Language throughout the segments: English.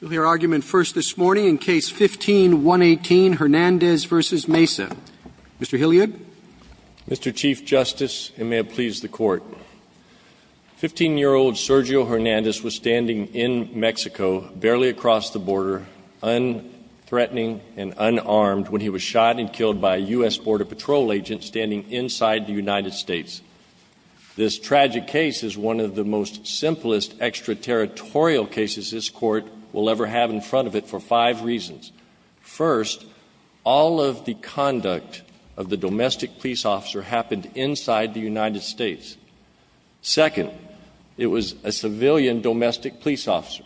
We'll hear argument first this morning in Case 15-118, Hernandez v. Mesa. Mr. Hilliard. Mr. Chief Justice, and may it please the Court, 15-year-old Sergio Hernandez was standing in Mexico, barely across the border, unthreatening and unarmed, when he was shot and killed by a U.S. Border Patrol agent standing inside the United States. This tragic case is one of the most simplest extraterritorial cases this Court will ever have in front of it for five reasons. First, all of the conduct of the domestic police officer happened inside the United States. Second, it was a civilian domestic police officer.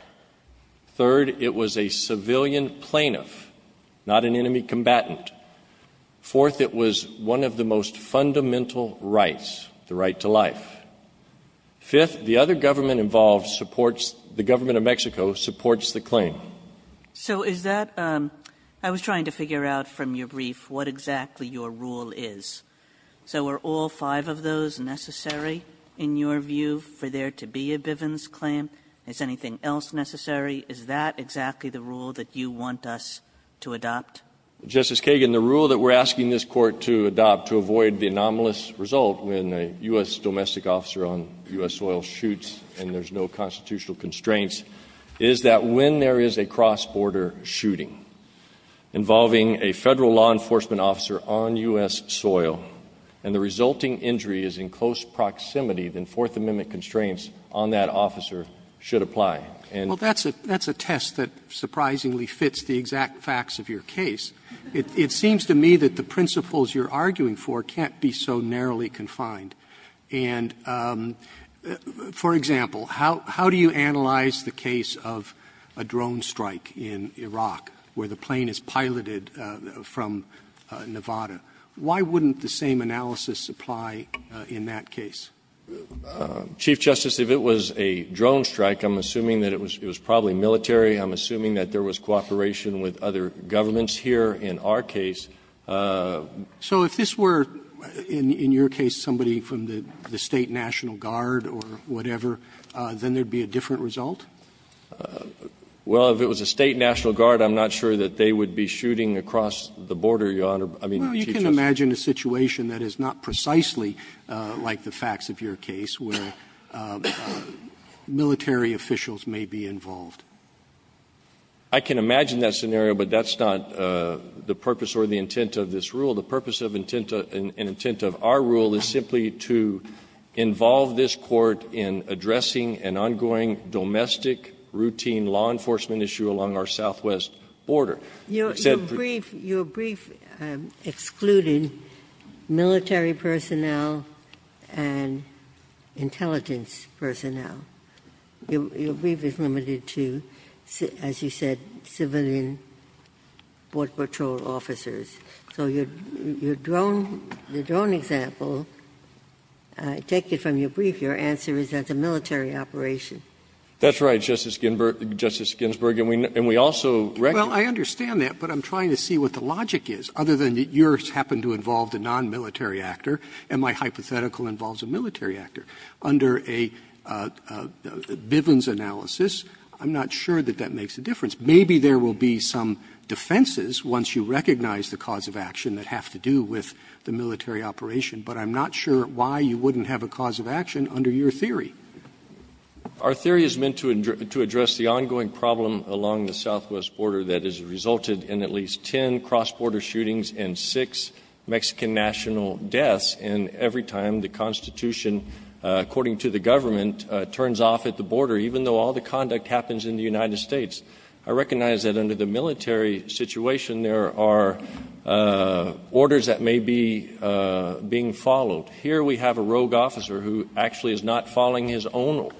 Third, it was a civilian plaintiff, not an enemy combatant. Fourth, it was one of the most fundamental rights, the right to life. Fifth, the other reason was that the U.S. Border Patrol agent was a civilian domestic police officer. police officer. So what's the claim? Kagan. So is that – I was trying to figure out from your brief what exactly your rule is. So are all five of those necessary in your view for there to be a Bivens claim? Is anything else necessary? Is that exactly the rule that you want us to adopt? Justice Kagan, the rule that we're asking this Court to adopt to avoid the anomalous result when a U.S. domestic officer on U.S. soil shoots and there's no constitutional constraints is that when there is a cross-border shooting involving a Federal law enforcement officer on U.S. soil and the resulting injury is in close proximity then Fourth Amendment constraints on that officer should apply. And – Roberts. Well, that's a test that surprisingly fits the exact facts of your case. It seems to me that the principles you're arguing for can't be so narrowly confined. And, for example, how do you analyze the case of a drone strike in Iraq where the plane is piloted from Nevada? Why wouldn't the same analysis apply in that case? Chief Justice, if it was a drone strike, I'm assuming that it was probably military. I'm assuming that there was cooperation with other governments here in our case. So if this were, in your case, somebody from the State National Guard or whatever, then there would be a different result? Well, if it was a State National Guard, I'm not sure that they would be shooting across the border, Your Honor. I mean, Chief Justice – Can you imagine a situation that is not precisely like the facts of your case where military officials may be involved? I can imagine that scenario, but that's not the purpose or the intent of this rule. The purpose and intent of our rule is simply to involve this Court in addressing an ongoing, domestic, routine law enforcement issue along our southwest border. Your brief excluded military personnel and intelligence personnel. Your brief is limited to, as you said, civilian board patrol officers. So your drone example, I take it from your brief, your answer is that's a military operation. That's right, Justice Ginsburg. And we also – Well, I understand that, but I'm trying to see what the logic is, other than that yours happened to involve a nonmilitary actor and my hypothetical involves a military actor. Under a Bivens analysis, I'm not sure that that makes a difference. Maybe there will be some defenses once you recognize the cause of action that have to do with the military operation, but I'm not sure why you wouldn't have a cause of action under your theory. Our theory is meant to address the ongoing problem along the southwest border that has resulted in at least ten cross-border shootings and six Mexican national deaths, and every time the Constitution, according to the government, turns off at the border, even though all the conduct happens in the United States. I recognize that under the military situation, there are orders that may be being followed. Here we have a rogue officer who actually is not following his own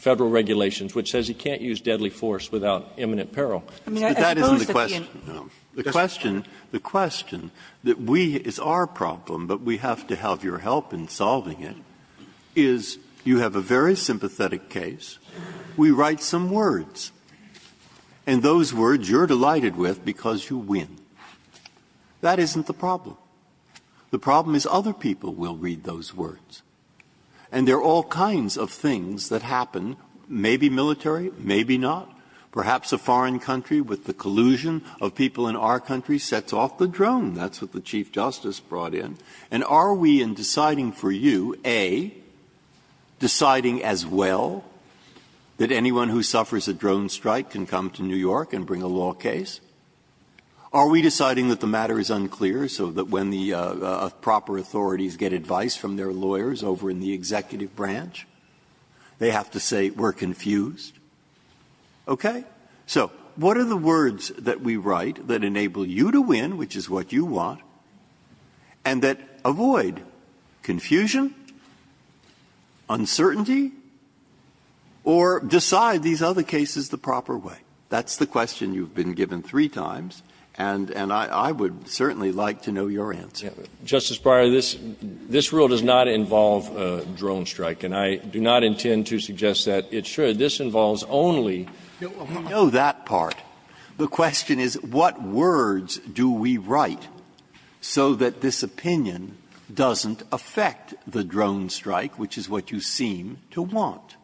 Federal regulations, which says he can't use deadly force without imminent peril. But that isn't the question. The question – the question that we – it's our problem, but we have to have your help in solving it, is you have a very sympathetic case, we write some words, and those words you're delighted with because you win. That isn't the problem. The problem is other people will read those words, and there are all kinds of things that happen, maybe military, maybe not. Perhaps a foreign country, with the collusion of people in our country, sets off the drone. That's what the Chief Justice brought in. And are we in deciding for you, A, deciding as well that anyone who suffers a drone strike can come to New York and bring a law case? Are we deciding that the matter is unclear so that when the proper authorities get advice from their lawyers over in the executive branch, they have to say we're confused? Okay? So what are the words that we write that enable you to win, which is what you want, and that avoid confusion, uncertainty, or decide these other cases the proper way? That's the question you've been given three times, and I would certainly like to know your answer. Jones, Justice Breyer, this rule does not involve a drone strike, and I do not intend to suggest that it should. This involves only the law. Breyer, we know that part. The question is what words do we write so that this opinion doesn't affect the drone strike, which is what you seem to want?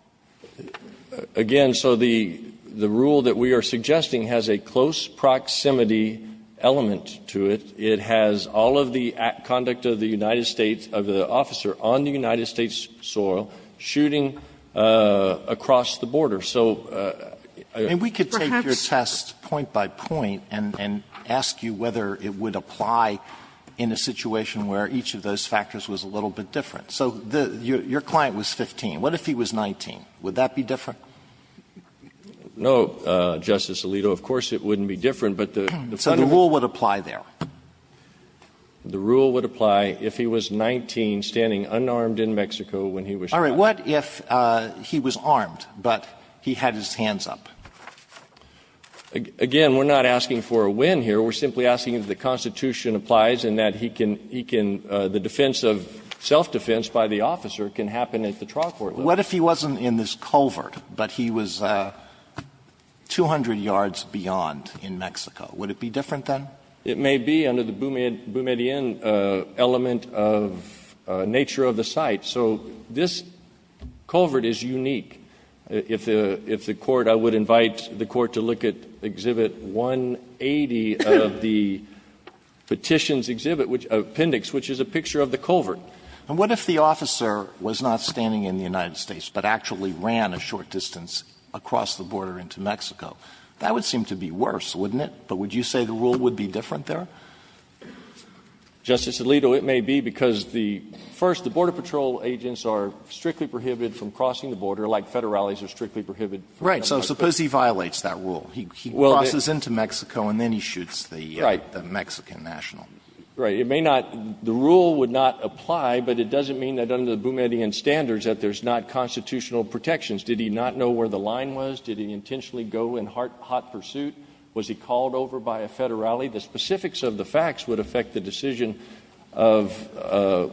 Again, so the rule that we are suggesting has a close proximity element to it. It has all of the conduct of the United States, of the officer on the United States soil, shooting across the border. So we could take your test point by point and ask you whether it would apply in a situation where each of those factors was a little bit different. So your client was 15. What if he was 19? Would that be different? No, Justice Alito, of course it wouldn't be different, but the point of the rule would apply there. The rule would apply if he was 19, standing unarmed in Mexico when he was shot. All right. What if he was armed, but he had his hands up? Again, we're not asking for a win here. We're simply asking if the Constitution applies and that he can the defense of self-defense by the officer can happen at the trial court level. What if he wasn't in this culvert, but he was 200 yards beyond in Mexico? Would it be different then? It may be under the Boumediene element of nature of the site. So this culvert is unique. If the Court – I would invite the Court to look at Exhibit 180 of the Petitions Exhibit, which is an appendix, which is a picture of the culvert. And what if the officer was not standing in the United States, but actually ran a short distance across the border into Mexico? That would seem to be worse, wouldn't it? But would you say the rule would be different there? Justice Alito, it may be, because the – first, the Border Patrol agents are strictly prohibited from crossing the border, like Federales are strictly prohibited from crossing the border. Right. So suppose he violates that rule. He crosses into Mexico and then he shoots the Mexican national. Right. It may not – the rule would not apply, but it doesn't mean that under the Boumediene standards that there's not constitutional protections. Did he not know where the line was? Did he intentionally go in hot pursuit? Was he called over by a Federale? The specifics of the facts would affect the decision of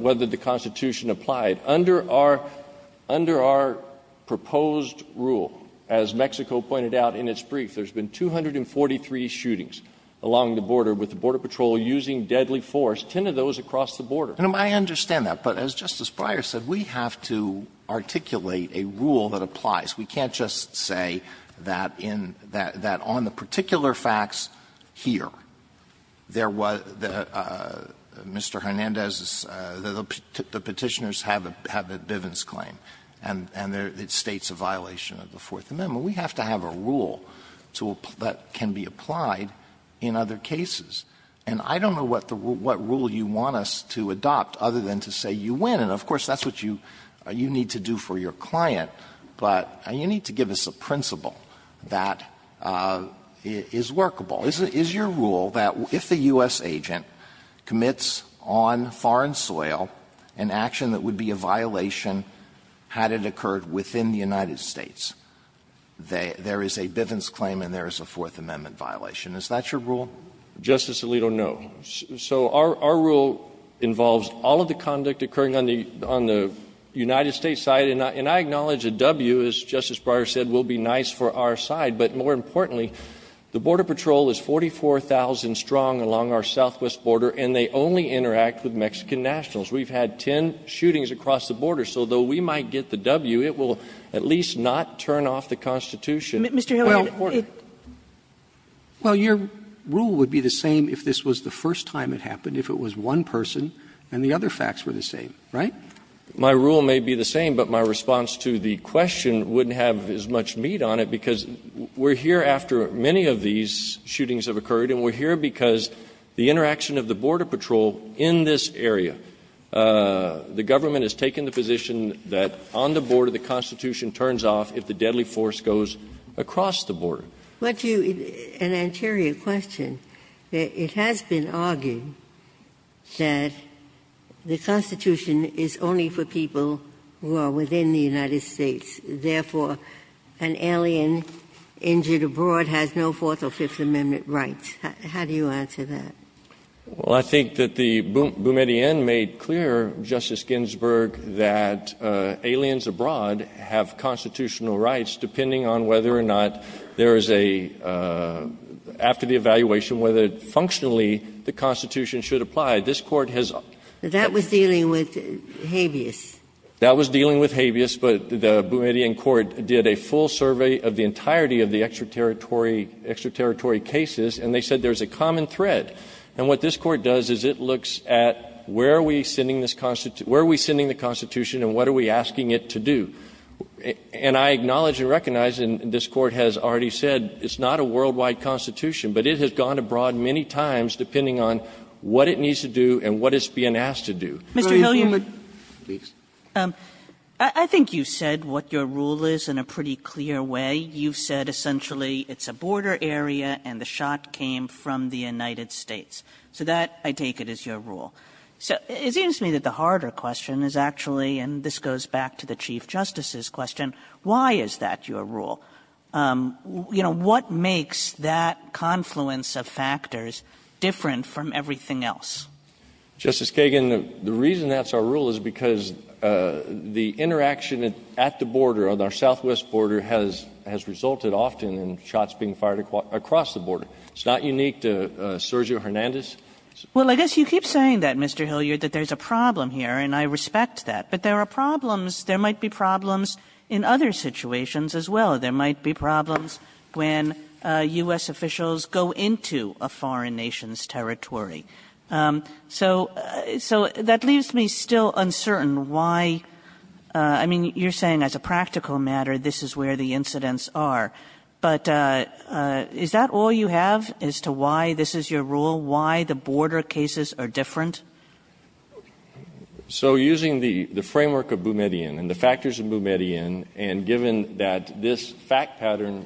whether the Constitution applied. Under our – under our proposed rule, as Mexico pointed out in its brief, there's been 243 shootings along the border, with the Border Patrol using deadly force, 10 of those across the border. I understand that, but as Justice Breyer said, we have to articulate a rule that applies. We can't just say that in – that on the particular facts here, there was – Mr. Hernandez's – the Petitioners have a Bivens claim, and it states a violation of the Fourth Amendment. We have to have a rule to – that can be applied in other cases. And I don't know what the – what rule you want us to adopt, other than to say you win. And of course, that's what you – you need to do for your client, but you need to give us a principle that is workable. Is it – is your rule that if the U.S. agent commits on foreign soil an action that would be a violation had it occurred within the United States? There is a Bivens claim and there is a Fourth Amendment violation. Is that your rule? Justice Alito, no. So our – our rule involves all of the conduct occurring on the – on the United States side, and I acknowledge a W, as Justice Breyer said, will be nice for our side. But more importantly, the Border Patrol is 44,000 strong along our southwest border, and they only interact with Mexican nationals. We've had 10 shootings across the border, so though we might get the W, it will at least not turn off the Constitution. Mr. Hilliard, it – Well, your rule would be the same if this was the first time it happened, if it was one person and the other facts were the same, right? My rule may be the same, but my response to the question wouldn't have as much meat on it, because we're here after many of these shootings have occurred, and we're here because the interaction of the Border Patrol in this area. The government has taken the position that on the border, the Constitution turns off if the deadly force goes across the border. But you – an anterior question. It has been argued that the Constitution is only for people who are within the United States. Therefore, an alien injured abroad has no Fourth or Fifth Amendment rights. How do you answer that? Well, I think that the Boumediene made clear, Justice Ginsburg, that aliens abroad have constitutional rights depending on whether or not there is a – after the evaluation, whether functionally the Constitution should apply. This Court has – That was dealing with habeas. That was dealing with habeas, but the Boumediene Court did a full survey of the entirety of the extraterritory – extraterritory cases, and they said there's a common thread. And what this Court does is it looks at where are we sending this – where are we sending the Constitution, and what are we asking it to do? And I acknowledge and recognize, and this Court has already said, it's not a worldwide Constitution, but it has gone abroad many times depending on what it needs to do and what it's being asked to do. Mr. Hilliard. I think you said what your rule is in a pretty clear way. You've said essentially it's a border area and the shot came from the United States. So that, I take it, is your rule. So it seems to me that the harder question is actually – and this goes back to the Chief Justice's question – why is that your rule? You know, what makes that confluence of factors different from everything else? Justice Kagan, the reason that's our rule is because the interaction at the border, on our southwest border, has resulted often in shots being fired across the border. It's not unique to Sergio Hernandez. Well, I guess you keep saying that, Mr. Hilliard, that there's a problem here, and I respect that. But there are problems – there might be problems in other situations as well. There might be problems when U.S. officials go into a foreign nation's territory. So that leaves me still uncertain why – I mean, you're saying as a practical matter this is where the incidents are. But is that all you have as to why this is your rule, why the border cases are different? So using the framework of Boumediene and the factors of Boumediene, and given that this is a situation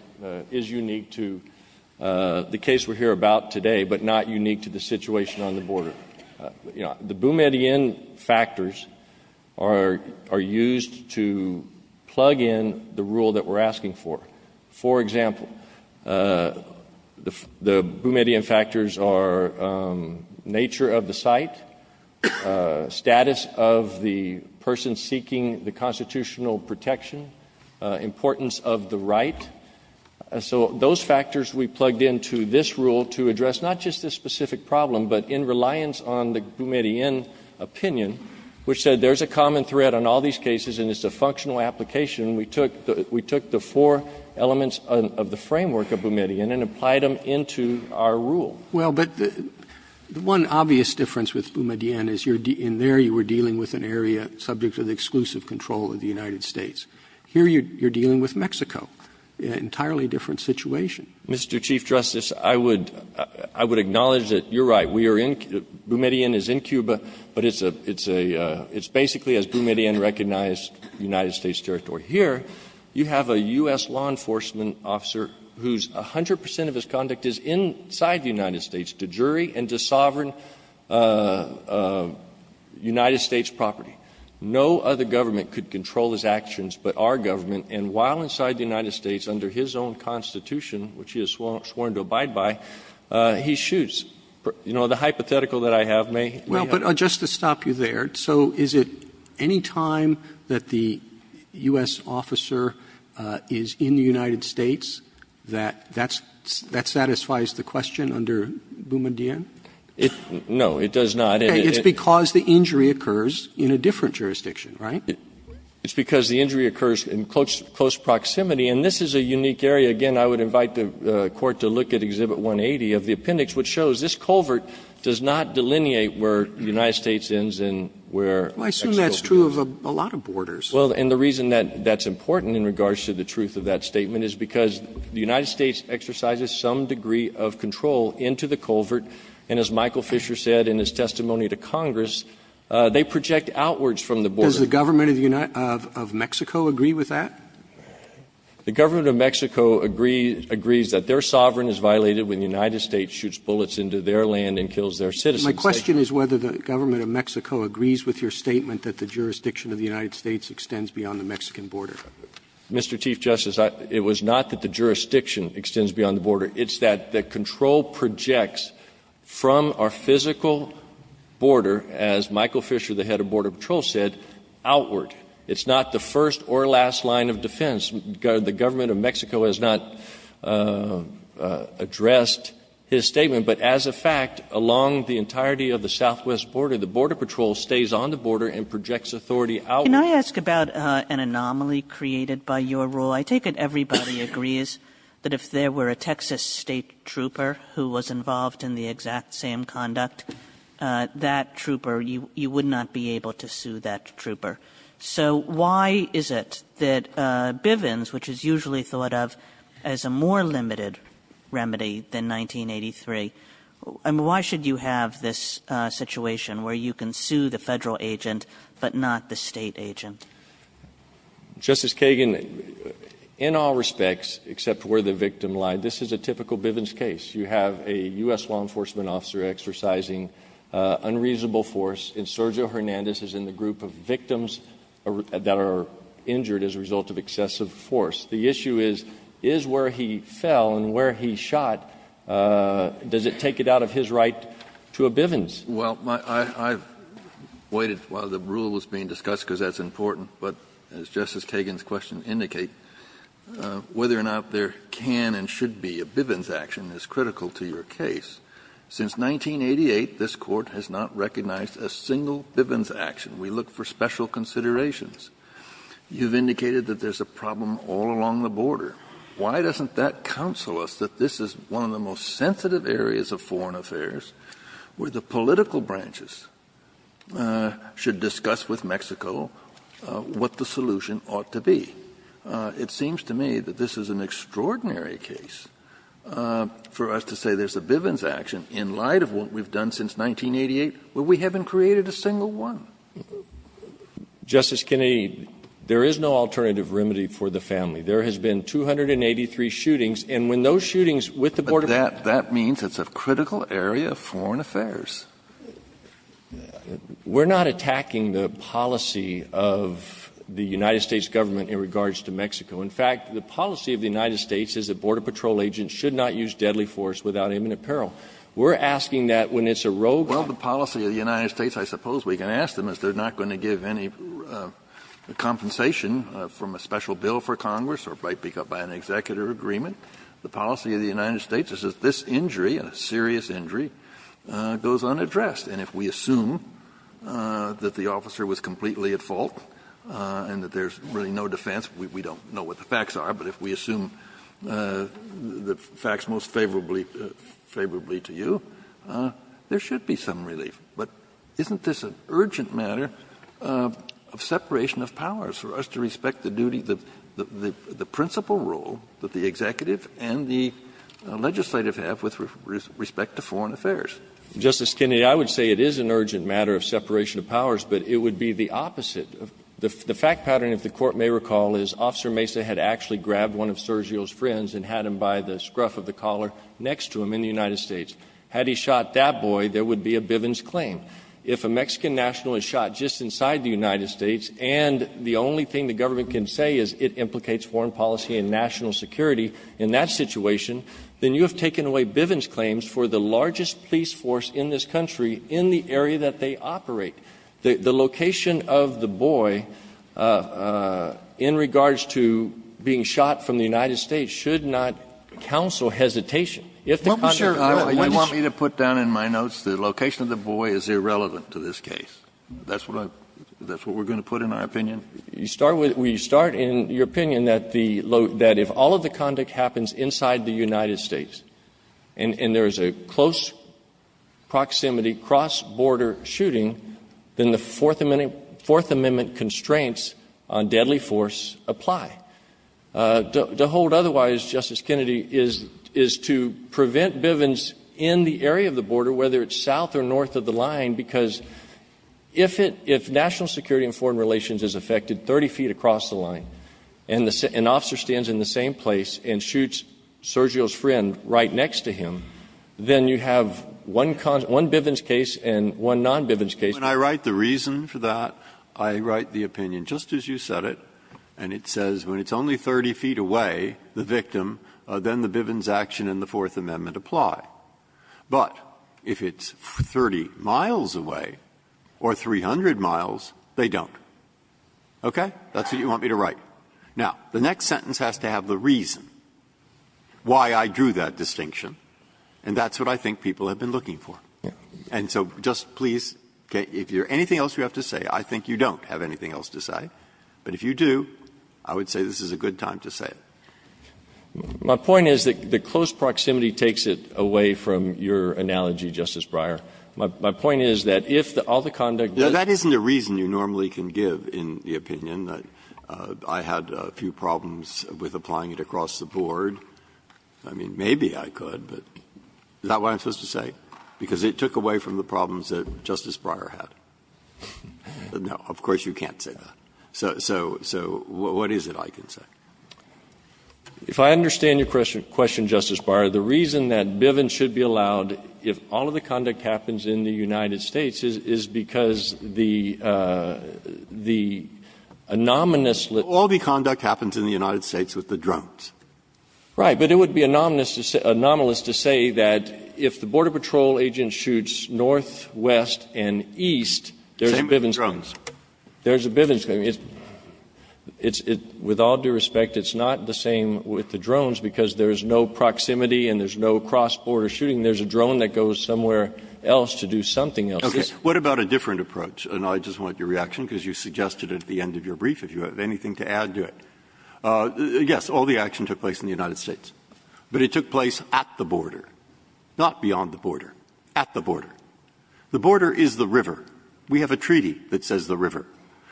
on the border, the Boumediene factors are used to plug in the rule that we're asking for. For example, the Boumediene factors are nature of the site, status of the person seeking the constitutional protection, importance of the right. So those factors we plugged into this rule to address not just this specific problem, but in reliance on the Boumediene opinion, which said there's a common thread on all these cases and it's a functional application, we took the four elements of the framework of Boumediene and applied them into our rule. Well, but the one obvious difference with Boumediene is in there you were dealing with an area subject to the exclusive control of the United States. Here you're dealing with Mexico. An entirely different situation. Mr. Chief Justice, I would acknowledge that you're right. We are in – Boumediene is in Cuba, but it's a – it's basically as Boumediene recognized United States territory. Here, you have a U.S. law enforcement officer whose 100 percent of his conduct is inside the United States, to jury and to sovereign United States property. No other government could control his actions but our government. And while inside the United States, under his own constitution, which he has sworn to abide by, he shoots. You know, the hypothetical that I have may help. Well, but just to stop you there, so is it any time that the U.S. officer is in the United States that that's – that satisfies the question under Boumediene? It – no, it does not. It's because the injury occurs in a different jurisdiction, right? It's because the injury occurs in close proximity. And this is a unique area. Again, I would invite the Court to look at Exhibit 180 of the appendix, which shows this culvert does not delineate where the United States ends and where Mexico begins. Well, I assume that's true of a lot of borders. Well, and the reason that that's important in regards to the truth of that statement is because the United States exercises some degree of control into the culvert. And as Michael Fisher said in his testimony to Congress, they project outwards from the border. Does the government of the United – of Mexico agree with that? The government of Mexico agrees that their sovereign is violated when the United States shoots bullets into their land and kills their citizens. My question is whether the government of Mexico agrees with your statement that the jurisdiction of the United States extends beyond the Mexican border. Mr. Chief Justice, it was not that the jurisdiction extends beyond the border. It's that the control projects from our physical border, as Michael Fisher, the head of the Border Patrol, said, outward. It's not the first or last line of defense. The government of Mexico has not addressed his statement. But as a fact, along the entirety of the southwest border, the Border Patrol stays on the border and projects authority outward. Kagan. Kagan. Can I ask about an anomaly created by your rule? I take it everybody agrees that if there were a Texas State trooper who was involved in the exact same conduct, that trooper, you would not be able to sue that trooper. So why is it that Bivens, which is usually thought of as a more limited remedy than 1983, I mean, why should you have this situation where you can sue the Federal agent but not the State agent? Justice Kagan, in all respects, except where the victim lied, this is a typical Bivens case. You have a U.S. law enforcement officer exercising unreasonable force, and Sergio Hernandez is in the group of victims that are injured as a result of excessive force. The issue is, is where he fell and where he shot, does it take it out of his right to a Bivens? Well, I've waited while the rule was being discussed because that's important. But as Justice Kagan's questions indicate, whether or not there can and should be a Bivens action is critical to your case. Since 1988, this Court has not recognized a single Bivens action. We look for special considerations. You've indicated that there's a problem all along the border. Why doesn't that counsel us that this is one of the most sensitive areas of foreign affairs where the political branches should discuss with Mexico what the solution ought to be? It seems to me that this is an extraordinary case for us to say there's a Bivens action in light of what we've done since 1988 where we haven't created a single one. Justice Kennedy, there is no alternative remedy for the family. There has been 283 shootings, and when those shootings with the border groups were not attacked, there was no alternative remedy for the family. We're not attacking the policy of the United States government in regards to the Mexico. In fact, the policy of the United States is that Border Patrol agents should not use deadly force without imminent peril. We're asking that when it's a rogue country. Kennedy, well, the policy of the United States, I suppose we can ask them, is they're not going to give any compensation from a special bill for Congress or by an executive agreement. The policy of the United States is that this injury, a serious injury, goes unaddressed. And if we assume that the officer was completely at fault and that there's really no defense, we don't know what the facts are, but if we assume the facts most favorably to you, there should be some relief. But isn't this an urgent matter of separation of powers for us to respect the duty, the principal role that the executive and the legislative have with respect to foreign affairs? Justice Kennedy, I would say it is an urgent matter of separation of powers, but it would be the opposite. The fact pattern, if the Court may recall, is Officer Mesa had actually grabbed one of Sergio's friends and had him by the scruff of the collar next to him in the United States. Had he shot that boy, there would be a Bivens claim. If a Mexican national is shot just inside the United States and the only thing the government can say is it implicates foreign policy and national security in that situation, then you have taken away Bivens claims for the largest police force in this country in the area that they operate. The location of the boy in regards to being shot from the United States should not counsel hesitation. If the conduct of the boy is irrelevant to this case, that's what we're going to put in our opinion? You start with we start in your opinion that if all of the conduct happens inside the United States and there is a close proximity cross-border shooting, then the Fourth Amendment constraints on deadly force apply. To hold otherwise, Justice Kennedy, is to prevent Bivens in the area of the border, whether it's south or north of the line, because if national security and foreign relations is affected 30 feet across the line and an officer stands in the same place and shoots Sergio's friend right next to him, then you have one Bivens case and one non-Bivens case. Breyer, when I write the reason for that, I write the opinion just as you said it, and it says when it's only 30 feet away, the victim, then the Bivens action and the Fourth Amendment apply. But if it's 30 miles away or 300 miles, they don't. Okay? That's what you want me to write. Now, the next sentence has to have the reason why I drew that distinction, and that's what I think people have been looking for. And so just please, if there's anything else you have to say, I think you don't have anything else to say. But if you do, I would say this is a good time to say it. My point is that the close proximity takes it away from your analogy, Justice Breyer. My point is that if all the conduct does not happen inside the United States and there I had a few problems with applying it across the board. I mean, maybe I could, but is that what I'm supposed to say? Because it took away from the problems that Justice Breyer had. Now, of course, you can't say that. So what is it I can say? If I understand your question, Justice Breyer, the reason that Bivens should be allowed if all of the conduct happens in the United States is because the anonymous All the conduct happens in the United States with the drones. Right. But it would be anomalous to say that if the Border Patrol agent shoots north, west, and east, there's a Bivens claim. There's a Bivens claim. It's, with all due respect, it's not the same with the drones, because there is no proximity and there's no cross-border shooting. There's a drone that goes somewhere else to do something else. Okay. What about a different approach? And I just want your reaction, because you suggested at the end of your brief, if you have anything to add to it. Yes, all the action took place in the United States. But it took place at the border, not beyond the border. At the border. The border is the river. We have a treaty that says the river.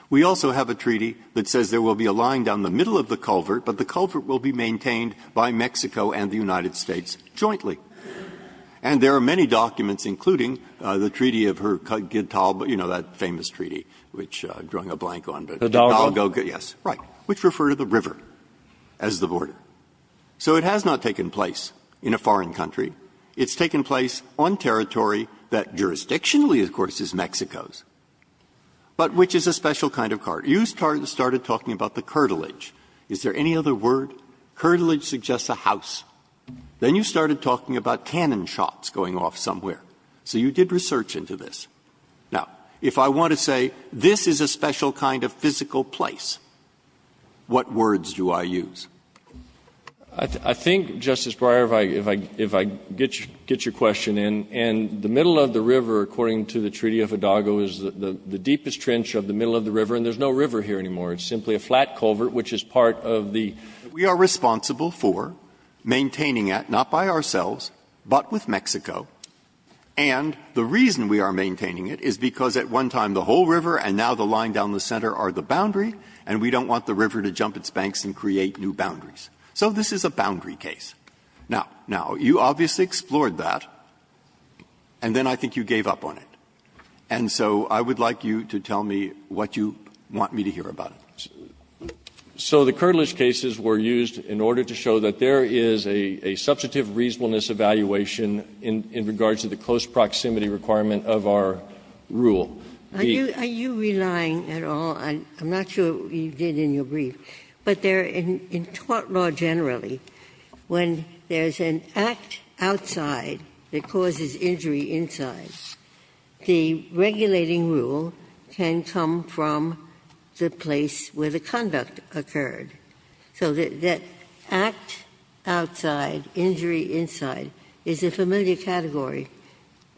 We also have a treaty that says there will be a line down the middle of the culvert, but the culvert will be maintained by Mexico and the United States jointly. And there are many documents, including the treaty of Hercule Guitart, you know, that famous treaty, which I'm drawing a blank on. The Dalgo? Yes, right, which referred to the river as the border. So it has not taken place in a foreign country. It's taken place on territory that jurisdictionally, of course, is Mexico's, but which is a special kind of cart. You started talking about the curtilage. Is there any other word? Curtilage suggests a house. Then you started talking about cannon shots going off somewhere. So you did research into this. Now, if I want to say this is a special kind of physical place, what words do I use? I think, Justice Breyer, if I get your question in, and the middle of the river, according to the Treaty of Hidalgo, is the deepest trench of the middle of the river, and there's no river here anymore. It's simply a flat culvert, which is part of the. We are responsible for maintaining it, not by ourselves, but with Mexico. And the reason we are maintaining it is because at one time the whole river and now the line down the center are the boundary, and we don't want the river to jump its banks and create new boundaries. So this is a boundary case. Now, you obviously explored that, and then I think you gave up on it. And so I would like you to tell me what you want me to hear about it. So the curtilage cases were used in order to show that there is a substantive reasonableness evaluation in regards to the close proximity requirement of our rule. Ginsburg-Are you relying at all on, I'm not sure you did in your brief, but there in tort law generally, when there's an act outside that causes injury inside, the regulating rule can come from the place where the conduct occurred. So that act outside, injury inside, is a familiar category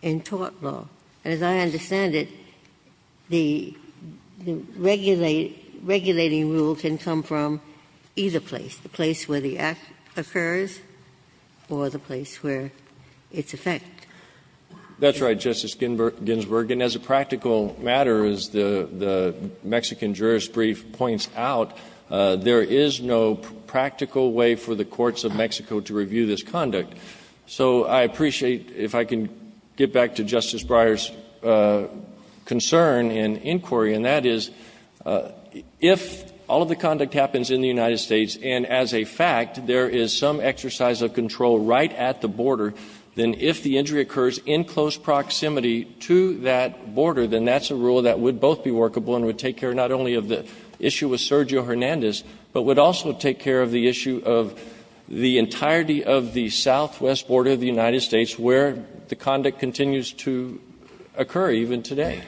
in tort law. And as I understand it, the regulating rule can come from either place, the place where the act occurs or the place where it's effect. That's right, Justice Ginsburg. And as a practical matter, as the Mexican jurist brief points out, there is no practical way for the courts of Mexico to review this conduct. So I appreciate, if I can get back to Justice Breyer's concern and inquiry, and that is, if all of the conduct happens in the United States, and as a fact, there is some exercise of control right at the border, then if the injury occurs in close proximity to that border, then that's a rule that would both be workable and would take care not only of the issue with Sergio Hernandez, but would also take care of the issue of the entirety of the southwest border of the United States where the conduct continues to occur, even today.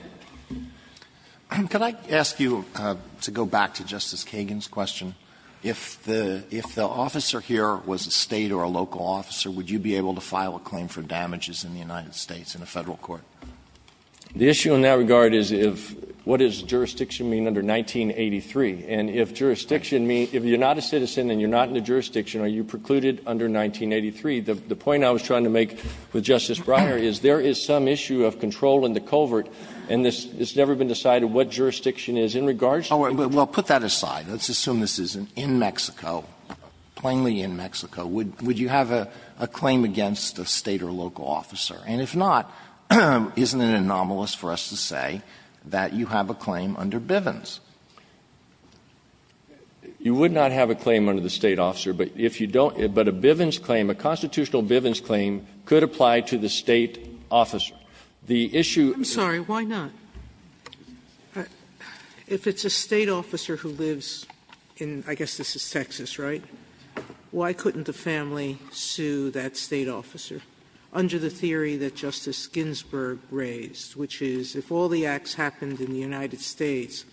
Alito, to go back to Justice Kagan's question, if the officer here was a State or a local officer, would you be able to file a claim for damages in the United States in a Federal court? The issue in that regard is if what does jurisdiction mean under 1983? And if jurisdiction means if you're not a citizen and you're not in a jurisdiction, are you precluded under 1983? The point I was trying to make with Justice Breyer is there is some issue of control in the culvert, and this has never been decided what jurisdiction is in regards to the jurisdiction. Well, put that aside. Let's assume this is in Mexico, plainly in Mexico. Would you have a claim against a State or local officer? And if not, isn't it anomalous for us to say that you have a claim under Bivens? You would not have a claim under the State officer, but if you don't – but a Bivens claim, a constitutional Bivens claim could apply to the State officer. The issue of the State officer is a State officer who lives in, I guess this is Texas, right? Why couldn't the family sue that State officer under the theory that Justice Ginsburg raised, which is if all the acts happened in the United States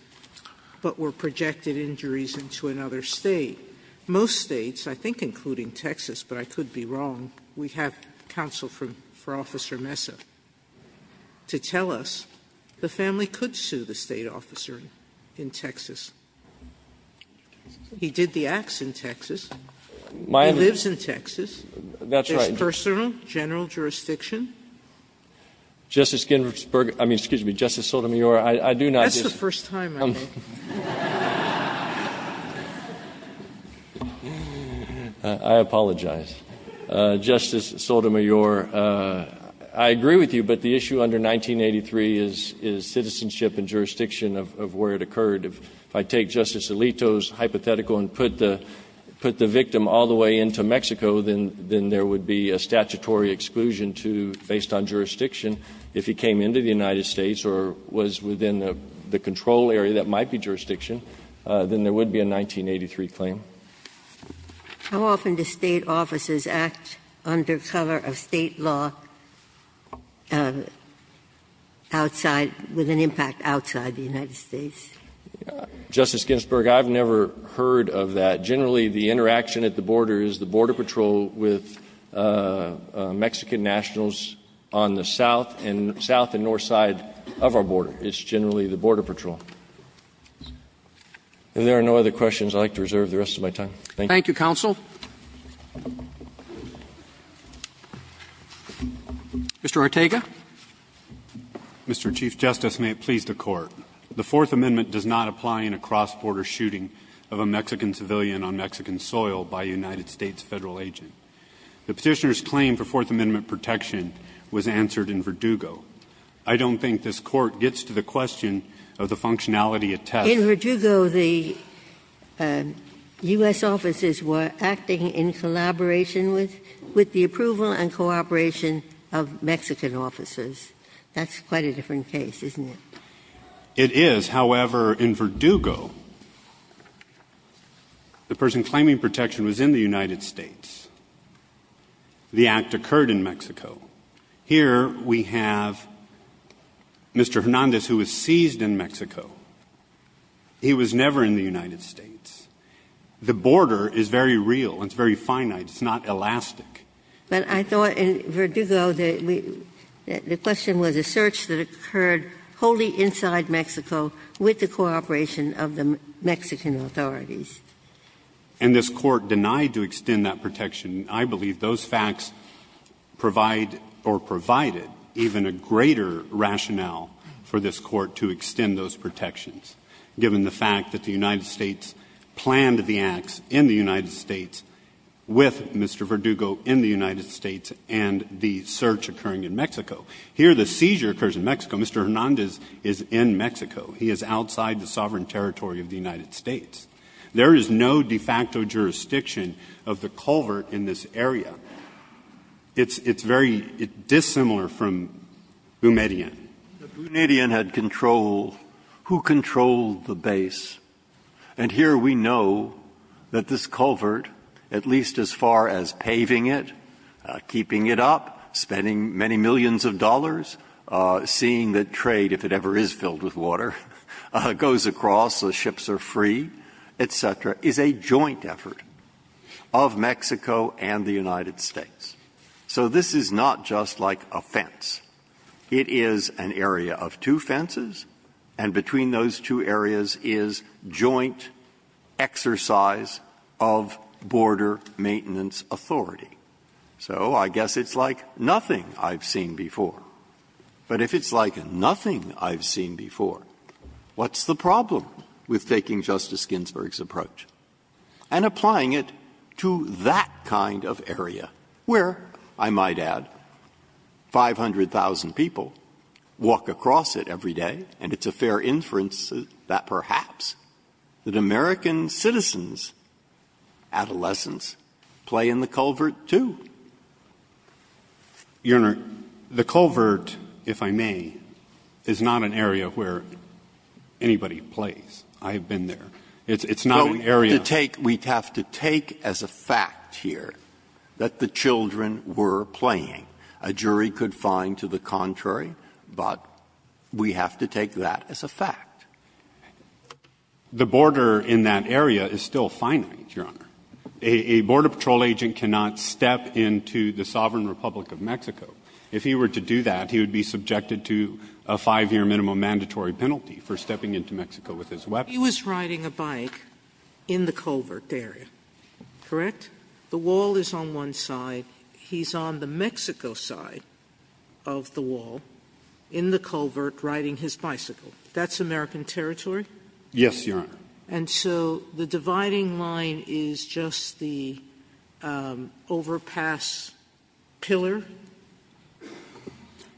but were projected injuries into another State, most States, I think including Texas, but I could be wrong, we have counsel for Officer Mesa to tell us the family could sue the State officer in Texas. He did the acts in Texas. He lives in Texas. That's personal, general jurisdiction. Justice Ginsburg – I mean, excuse me, Justice Sotomayor, I do not just – That's the first time I know. I apologize. Justice Sotomayor, I agree with you, but the issue under 1983 is citizenship and jurisdiction of where it occurred. If I take Justice Alito's hypothetical and put the victim all the way into Mexico, then there would be a statutory exclusion to, based on jurisdiction, if he came into the United States or was within the control area that might be jurisdiction, then there would be a 1983 claim. How often do State officers act under cover of State law outside, with an impact outside the United States? Justice Ginsburg, I've never heard of that. Generally, the interaction at the border is the Border Patrol with Mexican nationals on the south and north side of our border. It's generally the Border Patrol. If there are no other questions, I'd like to reserve the rest of my time. Thank you. Thank you, counsel. Mr. Ortega. Mr. Chief Justice, may it please the Court. The Fourth Amendment does not apply in a cross-border shooting of a Mexican civilian on Mexican soil by a United States Federal agent. The Petitioner's claim for Fourth Amendment protection was answered in Verdugo. I don't think this Court gets to the question of the functionality at test. In Verdugo, the U.S. officers were acting in collaboration with the approval and cooperation of Mexican officers. That's quite a different case, isn't it? It is. However, in Verdugo, the person claiming protection was in the United States. The act occurred in Mexico. Here we have Mr. Hernandez, who was seized in Mexico. He was never in the United States. The border is very real and it's very finite. It's not elastic. But I thought in Verdugo, the question was a search that occurred wholly inside Mexico with the cooperation of the Mexican authorities. And this Court denied to extend that protection. I believe those facts provide or provided even a greater rationale for this Court to extend those protections, given the fact that the United States planned the acts in the United States with Mr. Verdugo in the United States and the search occurring in Mexico. Here the seizure occurs in Mexico. Mr. Hernandez is in Mexico. He is outside the sovereign territory of the United States. There is no de facto jurisdiction of the culvert in this area. It's very dissimilar from Bumedian. The Bumedian had control. Who controlled the base? And here we know that this culvert, at least as far as paving it, keeping it up, spending many millions of dollars, seeing that trade, if it ever is filled with water, goes across, the ships are free, et cetera, is a joint effort of Mexico and the United States. So this is not just like a fence. It is an area of two fences, and between those two areas is joint exercise of border maintenance authority. So I guess it's like nothing I've seen before. But if it's like nothing I've seen before, what's the problem with taking Justice Ginsburg's approach and applying it to that kind of area where, I might add, 500, 1,000 people walk across it every day, and it's a fair inference that perhaps that American citizens, adolescents, play in the culvert, too? Your Honor, the culvert, if I may, is not an area where anybody plays. I have been there. It's not an area of the culvert. We have to take as a fact here that the children were playing. A jury could find to the contrary, but we have to take that as a fact. The border in that area is still finite, Your Honor. A border patrol agent cannot step into the sovereign Republic of Mexico. If he were to do that, he would be subjected to a 5-year minimum mandatory penalty for stepping into Mexico with his weapon. He was riding a bike in the culvert area, correct? The wall is on one side. He's on the Mexico side of the wall in the culvert riding his bicycle. That's American territory? Yes, Your Honor. And so the dividing line is just the overpass pillar?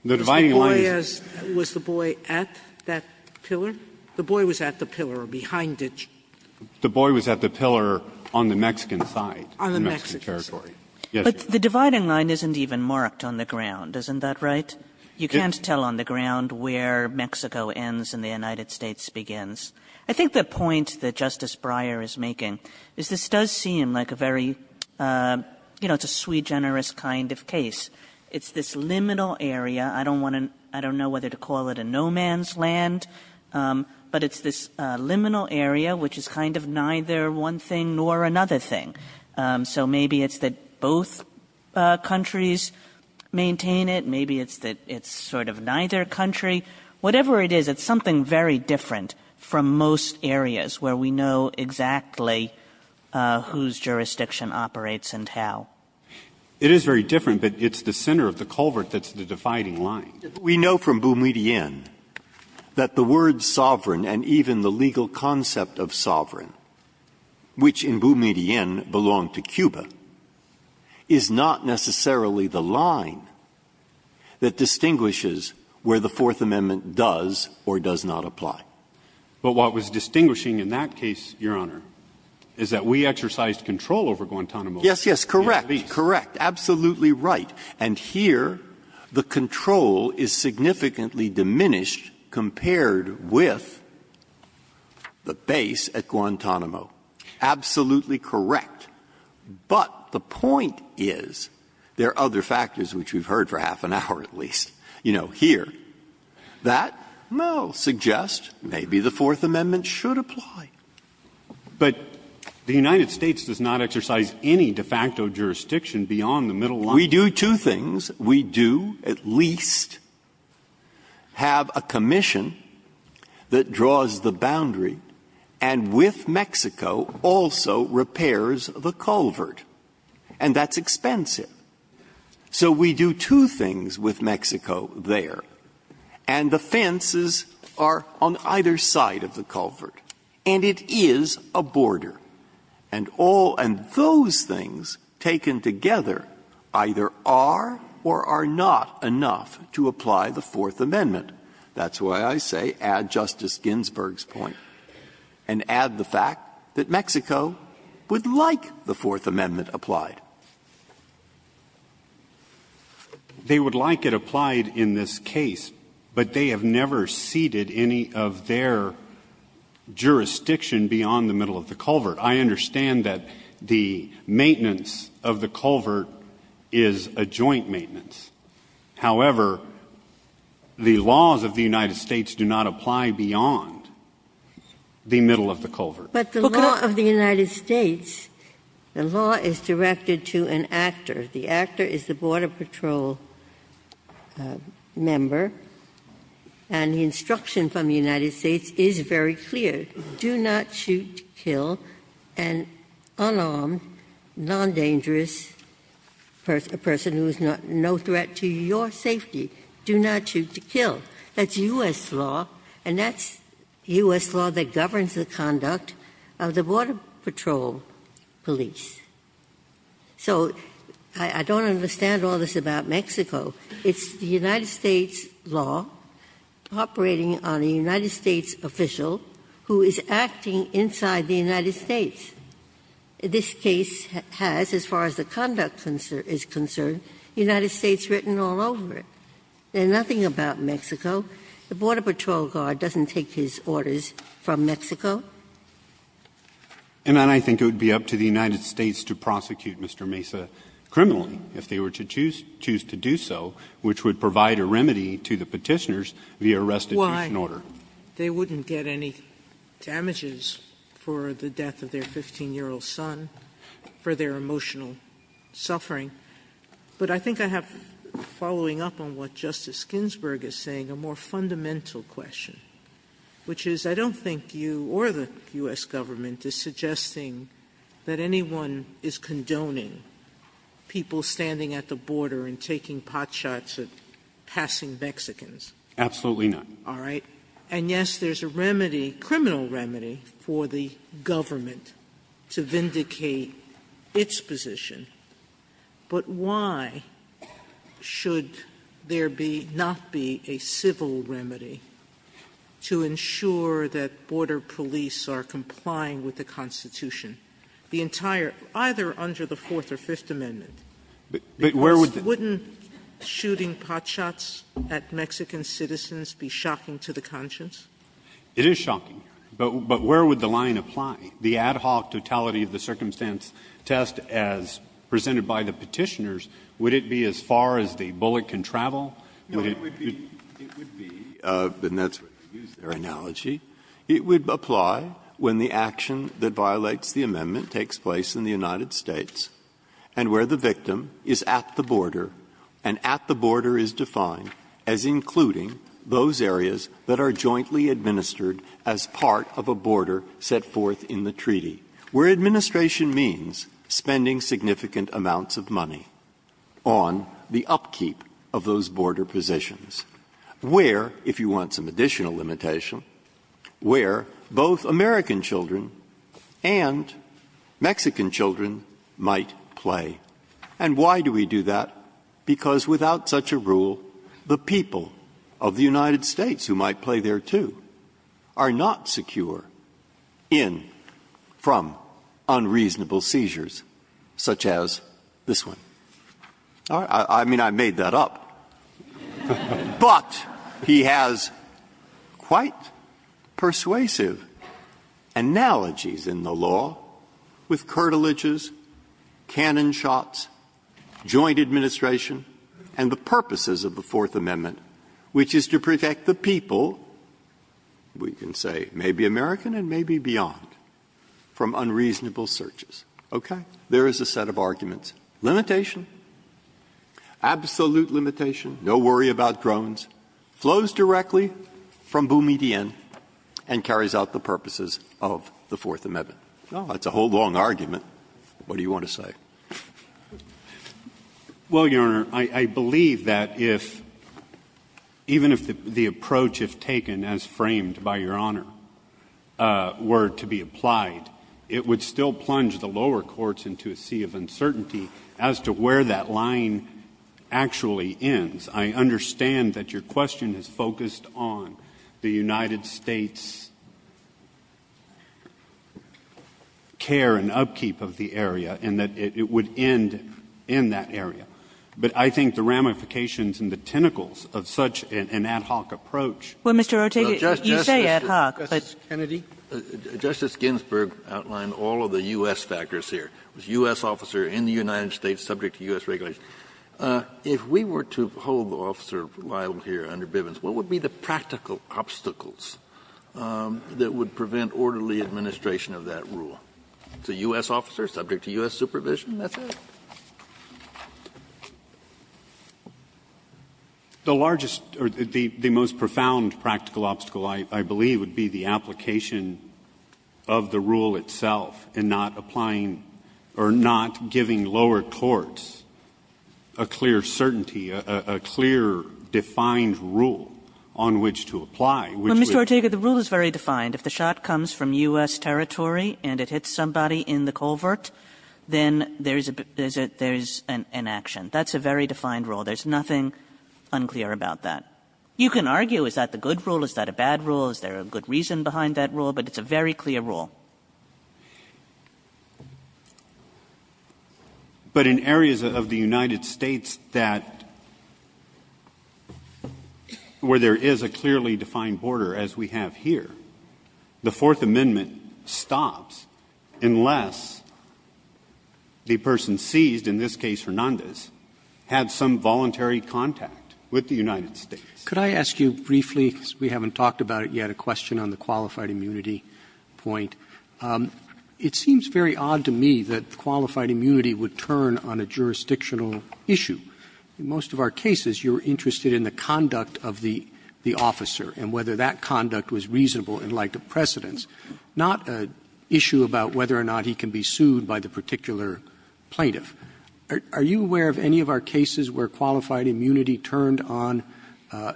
The dividing line is the boy at that pillar? The boy was at the pillar or behind it. The boy was at the pillar on the Mexican side. On the Mexican side. Yes, Your Honor. The dividing line isn't even marked on the ground, isn't that right? You can't tell on the ground where Mexico ends and the United States begins. I think the point that Justice Breyer is making is this does seem like a very, you know, it's a sui generis kind of case. It's this liminal area. I don't want to – I don't know whether to call it a no-man's land, but it's this liminal area which is kind of neither one thing nor another thing. So maybe it's that both countries maintain it. Maybe it's that it's sort of neither country. Whatever it is, it's something very different from most areas where we know exactly whose jurisdiction operates and how. It is very different, but it's the center of the culvert that's the dividing line. We know from Boumediene that the word sovereign and even the legal concept of sovereign, which in Boumediene belonged to Cuba, is not necessarily the line that distinguishes where the Fourth Amendment does or does not apply. But what was distinguishing in that case, Your Honor, is that we exercised control over Guantanamo. Yes, yes, correct, correct, absolutely right. And here the control is significantly diminished compared with the base at Guantanamo Absolutely correct. But the point is there are other factors, which we've heard for half an hour at least, you know, here, that, well, suggest maybe the Fourth Amendment should apply. But the United States does not exercise any de facto jurisdiction beyond the middle line. We do two things. We do at least have a commission that draws the boundary and with Mexico also repairs the culvert, and that's expensive. So we do two things with Mexico there, and the fences are on either side of the culvert, and it is a border. And all of those things taken together either are or are not enough to apply the Fourth Amendment. That's why I say add Justice Ginsburg's point and add the fact that Mexico would like the Fourth Amendment applied. They would like it applied in this case, but they have never ceded any of their jurisdiction beyond the middle of the culvert. I understand that the maintenance of the culvert is a joint maintenance. However, the laws of the United States do not apply beyond the middle of the culvert. But the law of the United States, the law is directed to an actor. The actor is the Border Patrol member, and the instruction from the United States is very clear, do not shoot, kill an unarmed, non-dangerous person who is no threat to your safety, do not shoot, kill. That's U.S. law, and that's U.S. law that governs the conduct of the Border Patrol police. So I don't understand all this about Mexico. It's the United States law operating on a United States official who is acting inside the United States. This case has, as far as the conduct is concerned, United States written all over it. There's nothing about Mexico. The Border Patrol guard doesn't take his orders from Mexico. And I think it would be up to the United States to prosecute Mr. Mesa criminally if they were to choose to do so, which would provide a remedy to the Petitioners via restitution order. Sotomayor, they wouldn't get any damages for the death of their 15-year-old son for their emotional suffering. But I think I have, following up on what Justice Ginsburg is saying, a more fundamental question, which is I don't think you or the U.S. government is suggesting that anyone is condoning people standing at the border and taking pot shots at passing Mexicans. Absolutely not. All right? And, yes, there's a remedy, criminal remedy, for the government to vindicate its position, but why should there be, not be, a civil remedy to ensure that Border Police are complying with the Constitution, the entire, either under the Fourth or Fifth Amendment? Wouldn't shooting pot shots at Mexican citizens be shocking to the conscience? It is shocking, but where would the line apply? The ad hoc totality of the circumstance test as presented by the Petitioners, would it be as far as the bullet can travel? Breyer, it would be, and that's where they use their analogy, it would apply when the action that violates the amendment takes place in the United States and where the victim is at the border, and at the border is defined as including those areas that are jointly administered as part of a border set forth in the treaty, where administration means spending significant amounts of money on the upkeep of those border positions, where, if you want some additional limitation, where both American children and Mexican children might play. And why do we do that? Because without such a rule, the people of the United States who might play there too are not secure in, from, unreasonable seizures such as this one. I mean, I made that up. But he has quite persuasive analogies in the law with curtilages, cannon shots, joint administration, and the purposes of the Fourth Amendment, which is to protect the people, we can say maybe American and maybe beyond, from unreasonable searches. Okay? There is a set of arguments. Limitation, absolute limitation, no worry about drones, flows directly from Boumediene and carries out the purposes of the Fourth Amendment. That's a whole long argument. What do you want to say? Well, Your Honor, I believe that if, even if the approach, if taken as framed by Your Honor, were to be applied, it would still plunge the lower courts into a sea of uncertainty as to where that line actually ends. I understand that your question is focused on the United States' care and upkeep of the area, and that it would end in that area. But I think the ramifications and the tentacles of such an ad hoc approach of justices Kennedy. Kennedy. Justice Ginsburg outlined all of the U.S. factors here. It was a U.S. officer in the United States subject to U.S. regulations. If we were to hold the officer liable here under Bivens, what would be the practical obstacles that would prevent orderly administration of that rule? It's a U.S. officer subject to U.S. supervision, that's it. The largest, or the most profound practical obstacle, I believe, would be the application of the rule itself and not applying or not giving lower courts a clear certainty, a clear, defined rule on which to apply, which would. Well, Mr. Ortega, the rule is very defined. If the shot comes from U.S. territory and it hits somebody in the culvert, then there is an action. That's a very defined rule. There is nothing unclear about that. You can argue, is that the good rule, is that a bad rule, is there a good reason behind that rule, but it's a very clear rule. But in areas of the United States that where there is a clearly defined border, as we have here, the Fourth Amendment stops unless the person seized, in this case Hernandez, had some voluntary contact with the United States. Roberts. Could I ask you briefly, because we haven't talked about it yet, a question on the qualified immunity point. It seems very odd to me that qualified immunity would turn on a jurisdictional issue. In most of our cases, you're interested in the conduct of the officer and whether that conduct was reasonable in light of precedents, not an issue about whether or not he can be sued by the particular plaintiff. Are you aware of any of our cases where qualified immunity turned on a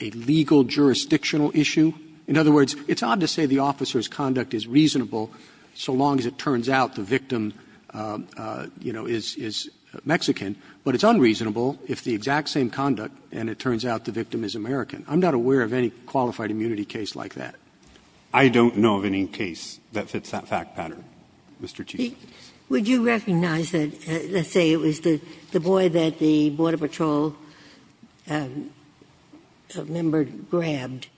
legal jurisdictional issue? In other words, it's odd to say the officer's conduct is reasonable so long as it turns out the victim, you know, is Mexican, but it's unreasonable if the exact same conduct and it turns out the victim is American. I'm not aware of any qualified immunity case like that. I don't know of any case that fits that fact pattern, Mr. Chief Justice. Would you recognize that, let's say it was the boy that the Border Patrol member grabbed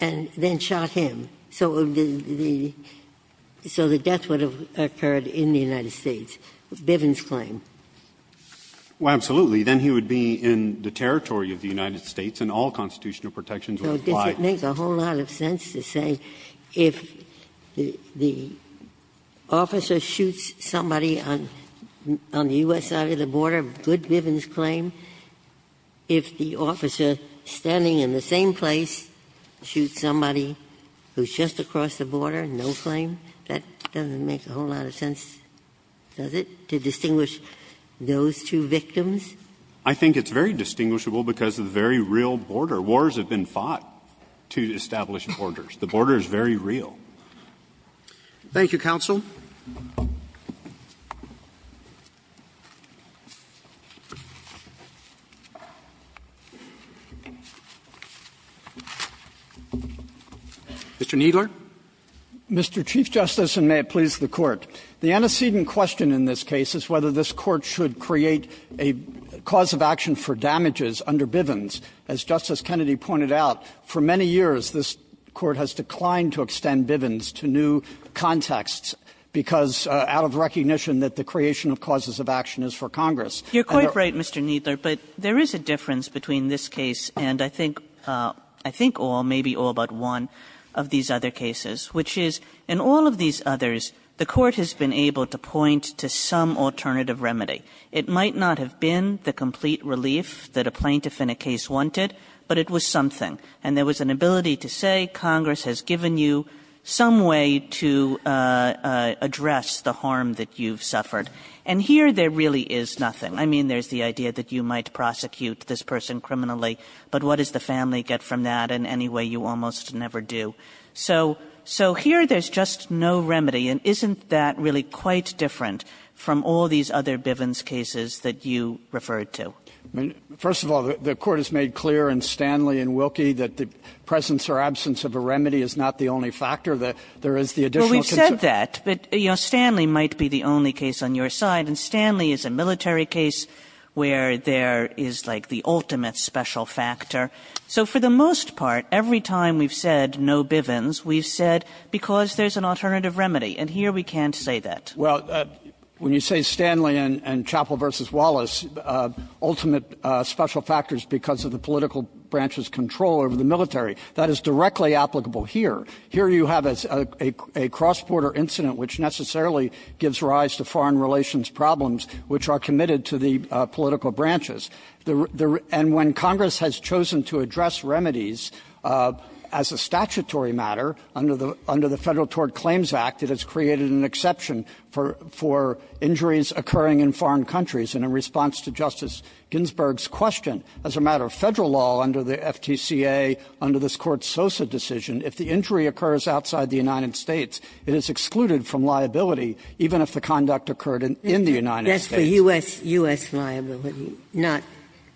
and then shot him, so the death would have occurred in the United States, Bivens' claim? Well, absolutely. Then he would be in the territory of the United States and all constitutional protections would apply. Ginsburg. So does it make a whole lot of sense to say if the officer shoots somebody on the U.S. side of the border, Good-Bivens' claim, if the officer standing in the same place shoots somebody who's just across the border, no claim, that doesn't make a whole lot of sense, does it? To distinguish those two victims? I think it's very distinguishable because of the very real border. Wars have been fought to establish borders. The border is very real. Thank you, counsel. Mr. Kneedler. Mr. Chief Justice, and may it please the Court. The antecedent question in this case is whether this Court should create a cause of action for damages under Bivens. As Justice Kennedy pointed out, for many years this Court has declined to extend Bivens to new contexts because out of recognition that the creation of causes of action is for Congress. You're quite right, Mr. Kneedler, but there is a difference between this case and I think all, maybe all but one of these other cases, which is in all of these others cases, the Court has been able to point to some alternative remedy. It might not have been the complete relief that a plaintiff in a case wanted, but it was something. And there was an ability to say, Congress has given you some way to address the harm that you've suffered. And here there really is nothing. I mean, there's the idea that you might prosecute this person criminally, but what does the family get from that in any way you almost never do? So here there's just no remedy, and isn't that really quite different from all these other Bivens cases that you referred to? Kneedler, First of all, the Court has made clear in Stanley and Wilkie that the presence or absence of a remedy is not the only factor. There is the additional concern. Kagan, Well, we've said that, but, you know, Stanley might be the only case on your side, and Stanley is a military case where there is, like, the ultimate special factor. So for the most part, every time we've said no Bivens, we've said because there's an alternative remedy, and here we can't say that. Kneedler, Well, when you say Stanley and Chappell v. Wallace, ultimate special factors because of the political branch's control over the military, that is directly applicable here. Here you have a cross-border incident which necessarily gives rise to foreign relations problems which are committed to the political branches. And when Congress has chosen to address remedies as a statutory matter under the Federal Tort Claims Act, it has created an exception for injuries occurring in foreign countries. And in response to Justice Ginsburg's question, as a matter of Federal law under the FTCA, under this Court's Sosa decision, if the injury occurs outside the United States, it is excluded from liability even if the conduct occurred in the United States. Ginsburg. But for U.S. liability, not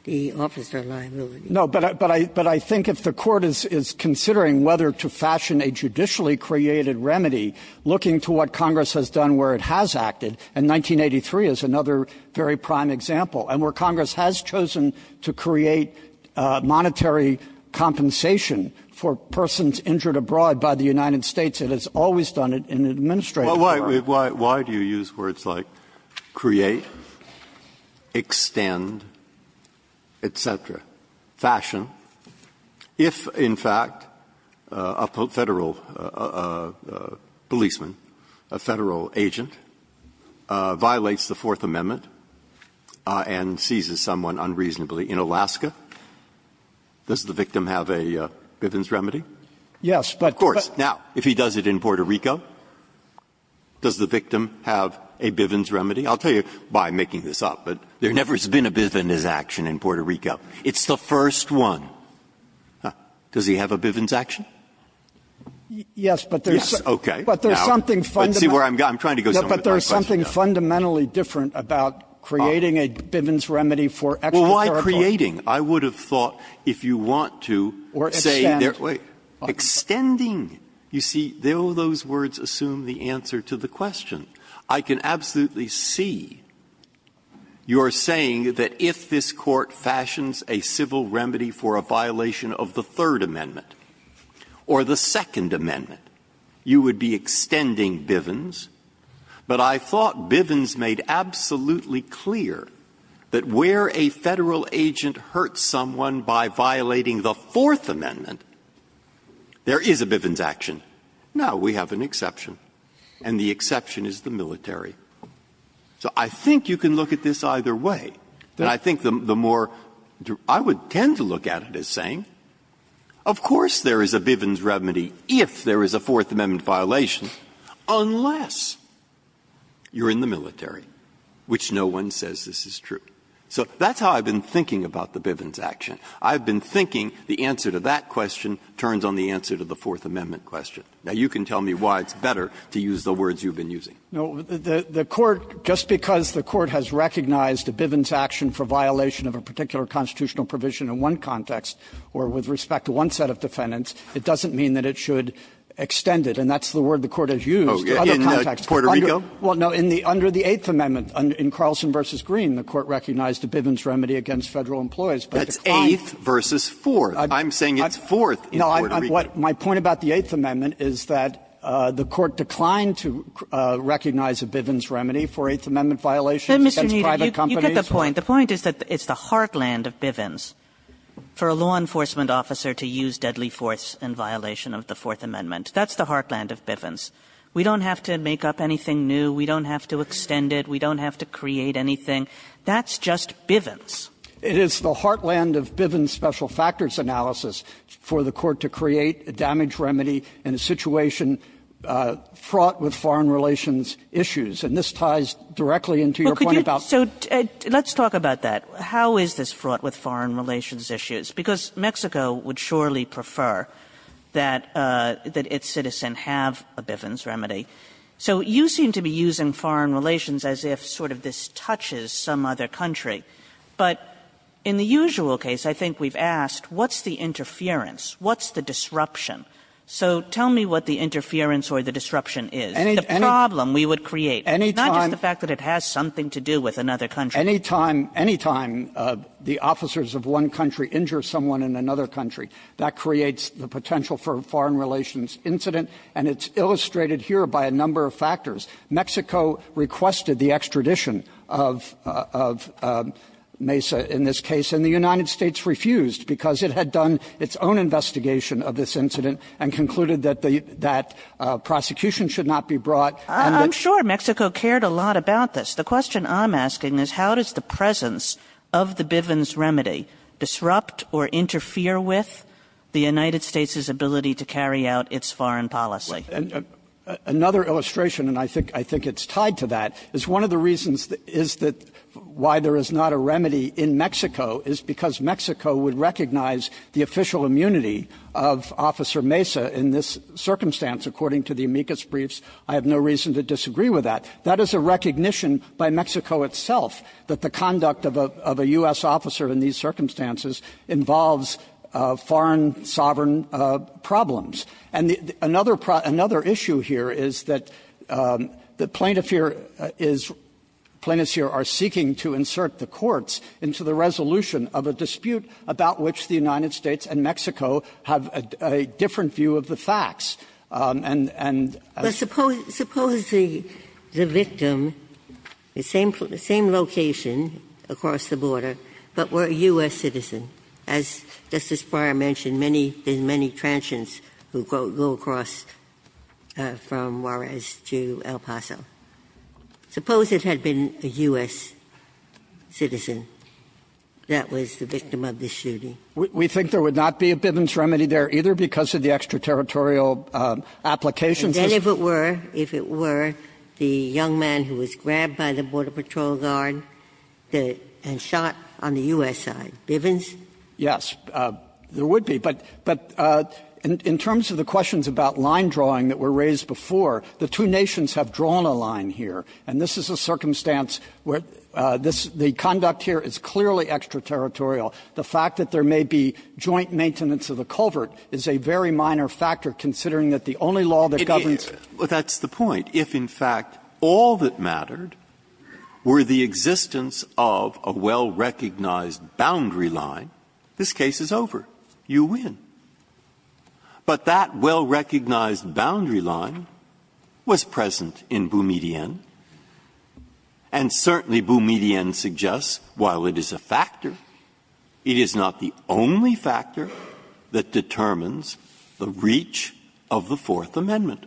the officer liability. Kneedler. No, but I think if the Court is considering whether to fashion a judicially created remedy looking to what Congress has done where it has acted, and 1983 is another very prime example, and where Congress has chosen to create monetary compensation for persons injured abroad by the United States, it has always done it in an administrative manner. Breyer. Why do you use words like create, extend, et cetera, fashion, if, in fact, a Federal policeman, a Federal agent, violates the Fourth Amendment and seizes someone unreasonably in Alaska, does the victim have a Bivens remedy? Yes, but the question is. Is it in Puerto Rico? Does the victim have a Bivens remedy? I'll tell you by making this up, but there never has been a Bivens action in Puerto Rico. It's the first one. Does he have a Bivens action? Kneedler. Yes, but there's something fundamentally different about creating a Bivens remedy for extra territory. Breyer. Well, why creating? I would have thought if you want to say there are, wait, extending. You see, those words assume the answer to the question. I can absolutely see you're saying that if this Court fashions a civil remedy for a violation of the Third Amendment or the Second Amendment, you would be extending Bivens. But I thought Bivens made absolutely clear that where a Federal agent hurts someone by violating the Fourth Amendment, there is a Bivens action. Now, we have an exception, and the exception is the military. So I think you can look at this either way. I think the more you do, I would tend to look at it as saying, of course there is a Bivens remedy if there is a Fourth Amendment violation, unless you're in the military, which no one says this is true. So that's how I've been thinking about the Bivens action. I've been thinking the answer to that question turns on the answer to the Fourth Amendment question. Now, you can tell me why it's better to use the words you've been using. Kneedlerer No. The Court, just because the Court has recognized a Bivens action for violation of a particular constitutional provision in one context or with respect to one set of defendants, it doesn't mean that it should extend it. And that's the word the Court has used. Breyer, in Puerto Rico? Kneedlerer Well, no, under the Eighth Amendment, in Carlson v. Green, the Court recognized a Bivens remedy against Federal employees. Breyer, that's Eighth v. Fourth. I'm saying it's Fourth in Puerto Rico. Kneedlerer No. My point about the Eighth Amendment is that the Court declined to recognize a Bivens remedy for Eighth Amendment violations against private companies. Kagan You get the point. The point is that it's the heartland of Bivens for a law enforcement officer to use deadly force in violation of the Fourth Amendment. That's the heartland of Bivens. We don't have to make up anything new. We don't have to extend it. We don't have to create anything. That's just Bivens. Kneedlerer It is the heartland of Bivens' special factors analysis for the Court to create a damage remedy in a situation fraught with foreign relations issues. And this ties directly into your point about the Fourth Amendment. Kagan So let's talk about that. How is this fraught with foreign relations issues? Because Mexico would surely prefer that its citizens have a Bivens remedy. So you seem to be using foreign relations as if sort of this touches some other country. But in the usual case, I think we've asked, what's the interference, what's the disruption? So tell me what the interference or the disruption is, the problem we would create. It's not just the fact that it has something to do with another country. Kneedlerer Any time the officers of one country injure someone in another country, that creates the potential for a foreign relations incident, and it's illustrated here by a number of factors. Mexico requested the extradition of Mesa in this case, and the United States refused because it had done its own investigation of this incident and concluded that that prosecution should not be brought. Kagan I'm sure Mexico cared a lot about this. The question I'm asking is, how does the presence of the Bivens remedy disrupt or interfere with the United States' ability to carry out its foreign policy? Kneedlerer Another illustration, and I think it's tied to that, is one of the reasons is that why there is not a remedy in Mexico is because Mexico would recognize the official immunity of Officer Mesa in this circumstance. According to the amicus briefs, I have no reason to disagree with that. That is a recognition by Mexico itself that the conduct of a U.S. officer in these circumstances involves foreign sovereign problems. And another issue here is that the plaintiff here is seeking to insert the courts into the resolution of a dispute about which the United States and Mexico have a different view of the facts. And as you say, there is no remedy in Mexico. Ginsburg Suppose the victim, same location across the border, but were a U.S. citizen. As Justice Breyer mentioned, many, many transgents who go across from Juarez to El Paso. Suppose it had been a U.S. citizen that was the victim of this shooting. Kneedlerer We think there would not be a Bivens remedy there either because of the extraterritorial application system. Ginsburg And then if it were, if it were, the young man who was grabbed by the Border Patrol guard and shot on the U.S. side, Bivens? Kneedlerer Yes, there would be. But in terms of the questions about line drawing that were raised before, the two nations have drawn a line here. And this is a circumstance where the conduct here is clearly extraterritorial. The fact that there may be joint maintenance of the culvert is a very minor factor considering that the only law that governs it. Breyer That's the point. If, in fact, all that mattered were the existence of a well-recognized boundary line, this case is over. You win. But that well-recognized boundary line was present in Boumediene. And certainly, Boumediene suggests, while it is a factor, it is not the only factor that determines the reach of the Fourth Amendment.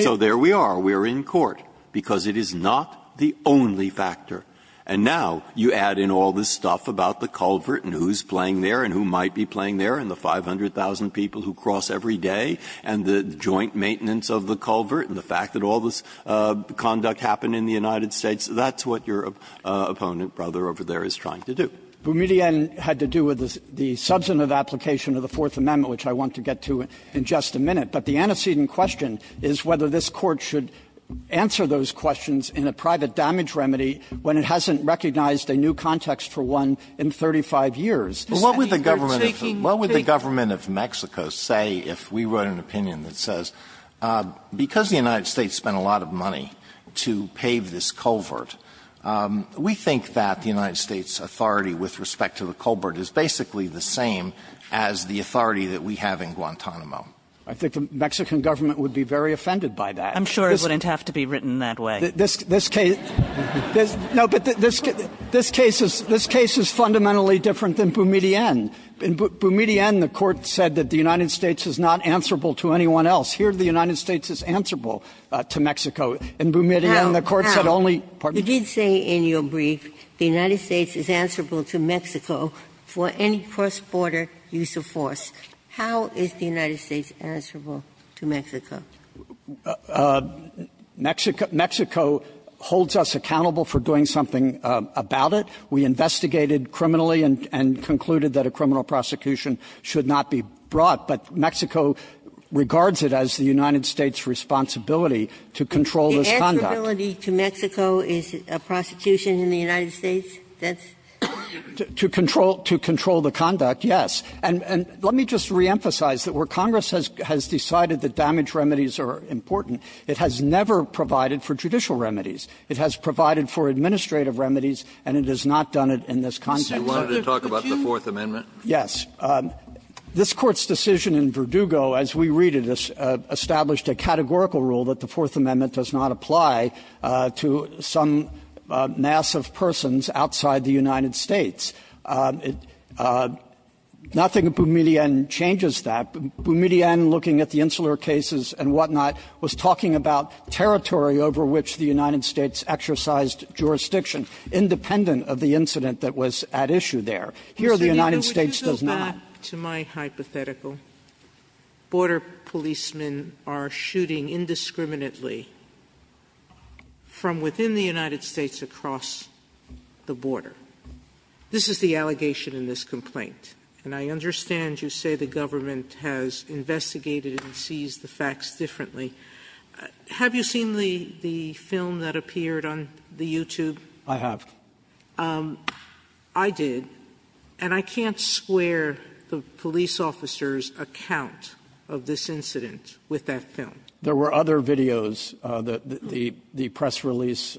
So there we are. We are in court because it is not the only factor. And now you add in all this stuff about the culvert and who's playing there and who might be playing there and the 500,000 people who cross every day and the joint maintenance of the culvert and the fact that all this conduct happened in the United States, that's what your opponent brother over there is trying to do. Kneedlerer Boumediene had to do with the substantive application of the Fourth Amendment, which I want to get to in just a minute. But the antecedent question is whether this Court should answer those questions in a private damage remedy when it hasn't recognized a new context for one in 35 years. Alito What would the government of Mexico say if we wrote an opinion that says because the United States spent a lot of money to pave this culvert, we think that the United States' authority with respect to the culvert is basically the same as the authority that we have in Guantanamo? Kneedlerer Boumediene I think the Mexican government would be very offended by that. Kagan I'm sure it wouldn't have to be written that way. Kneedlerer Boumediene This case no, but this case is fundamentally different than Boumediene. In Boumediene, the Court said that the United States is not answerable to anyone else. Here the United States is answerable to Mexico. In Boumediene, the Court said only Ginsburg You did say in your brief the United States is answerable to Mexico for any cross-border use of force. How is the United States answerable to Mexico? Kneedlerer Boumediene Mexico holds us accountable for doing something about it. We investigated criminally and concluded that a criminal prosecution should not be brought, but Mexico regards it as the United States' responsibility to control this conduct. Ginsburg The answerability to Mexico is a prosecution in the United States? That's Kneedlerer Boumediene To control the conduct, yes. And let me just reemphasize that where Congress has decided that damage remedies are important, it has never provided for judicial remedies. It has provided for administrative remedies, and it has not done it in this context. Kennedy You wanted to talk about the Fourth Amendment? Kneedlerer Boumediene Yes. This Court's decision in Verdugo, as we read it, established a categorical rule that the Fourth Amendment does not apply to some mass of persons outside the United States. Nothing in Boumediene changes that. Boumediene, looking at the Insular Cases and whatnot, was talking about territory over which the United States exercised jurisdiction, independent of the incident that was at issue there. Sotomayor Mr. Kneedlerer, would you go back to my hypothetical? Border policemen are shooting indiscriminately from within the United States across the border. This is the allegation in this complaint, and I understand you say the government has investigated and sees the facts differently. Have you seen the film that appeared on the YouTube? Kneedlerer Boumediene I have. Sotomayor I did, and I can't square the police officer's account of this incident with that film. Kneedlerer Boumediene There were other videos, the press release,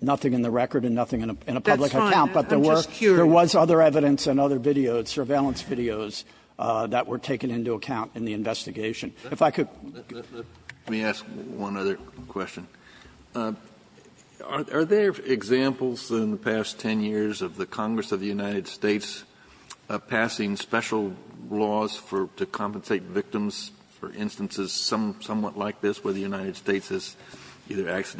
nothing in the record and nothing in a public account. Sotomayor That's fine. I'm just curious. Kneedlerer Boumediene But there were other evidence and other videos, surveillance videos, that were taken into account in the investigation. If I could. Kennedy Let me ask one other question. Are there examples in the past 10 years of the Congress of the United States passing special laws for to compensate victims for instances somewhat like this where the there have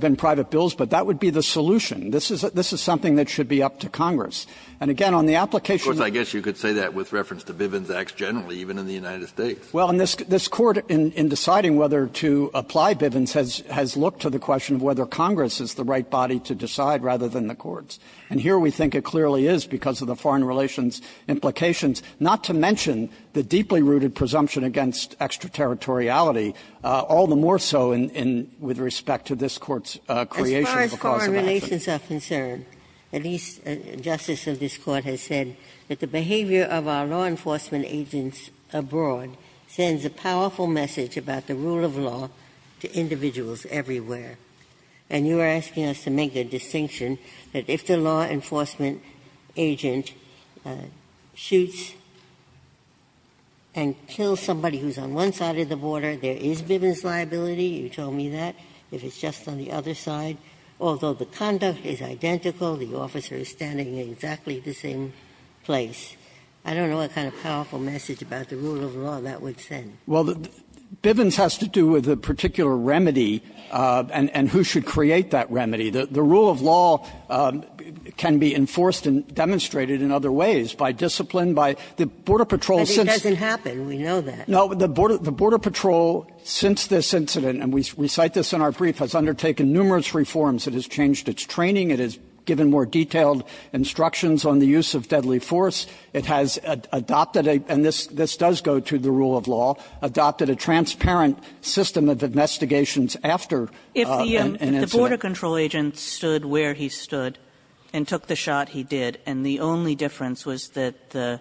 been private bills, but that would be the solution? This is something that should be up to Congress. And again, on the application of the courts, I guess you could say that with reference to Bivens Acts generally, even in the United States. Kneedlerer Boumediene Well, and this Court in deciding whether to apply Bivens has looked to the question of whether Congress is the right body to decide rather than the courts. And here we think it clearly is because of the foreign relations implications, not to mention the deeply rooted presumption against extraterritoriality, all the more so with respect to this Court's creation of a cause of action. Ginsburg As far as foreign relations are concerned, at least justice of this Court has said that the behavior of our law enforcement agents abroad sends a powerful message about the rule of law to individuals everywhere. And you are asking us to make a distinction that if the law enforcement agent shoots and kills somebody who's on one side of the border, there is Bivens liability, you told me that, if it's just on the other side, although the conduct is identical, the officer is standing in exactly the same place. I don't know what kind of powerful message about the rule of law that would send. Kneedlerer Boumediene Well, Bivens has to do with a particular remedy and who should create that remedy. The rule of law can be enforced and demonstrated in other ways, by discipline, by the border patrols. Ginsburg But it doesn't happen, we know that. Kneedlerer Boumediene No, the border patrol, since this incident, and we cite this in our brief, has undertaken numerous reforms. It has changed its training. It has given more detailed instructions on the use of deadly force. It has adopted, and this does go to the rule of law, adopted a transparent system of investigations after an incident. Kagan If the border control agent stood where he stood and took the shot he did, and the only difference was that the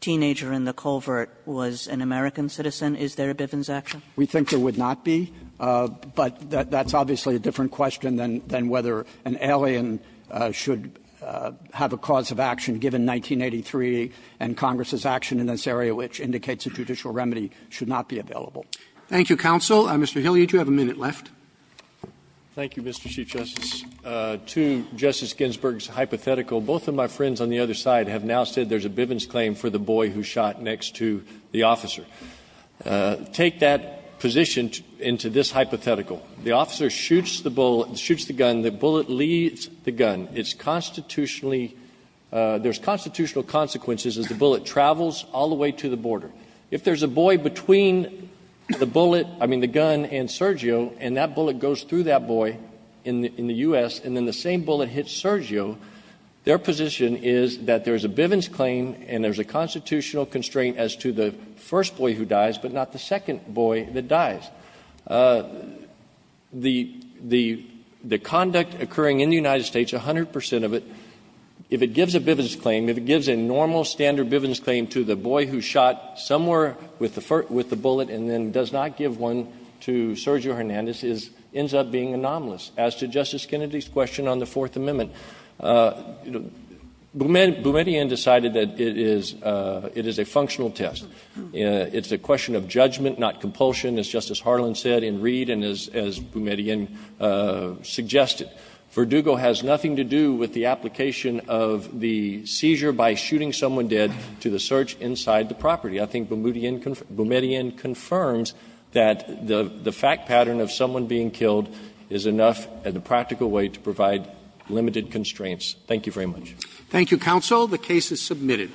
teenager in the culvert was an American citizen, is there a Bivens action? Kneedlerer Boumediene We think there would not be, but that's obviously a different question than whether an alien should have a cause of action given 1983 and Congress's action in this area, which indicates a judicial remedy, should not be available. Roberts Thank you, counsel. Mr. Hilliard, you have a minute left. Hilliard Thank you, Mr. Chief Justice. To Justice Ginsburg's hypothetical, both of my friends on the other side have now said there's a Bivens claim for the boy who shot next to the officer. Take that position into this hypothetical. The officer shoots the bullet, shoots the gun, the bullet leaves the gun. It's constitutionally – there's constitutional consequences as the bullet travels all the way to the border. If there's a bullet between the bullet, I mean the gun, and Sergio, and that bullet goes through that boy in the U.S., and then the same bullet hits Sergio, their position is that there's a Bivens claim and there's a constitutional constraint as to the first boy who dies, but not the second boy that dies. The conduct occurring in the United States, 100 percent of it, if it gives a Bivens claim, if it gives a normal standard Bivens claim to the boy who shot somewhere with the bullet and then does not give one to Sergio Hernandez, ends up being anomalous. As to Justice Kennedy's question on the Fourth Amendment, Boumediene decided that it is a functional test. It's a question of judgment, not compulsion, as Justice Harlan said in Reed and as Boumediene suggested. Verdugo has nothing to do with the application of the seizure by shooting someone dead to the search inside the property. I think Boumediene confirms that the fact pattern of someone being killed is enough in a practical way to provide limited constraints. Thank you very much. Roberts. Thank you, counsel. The case is submitted.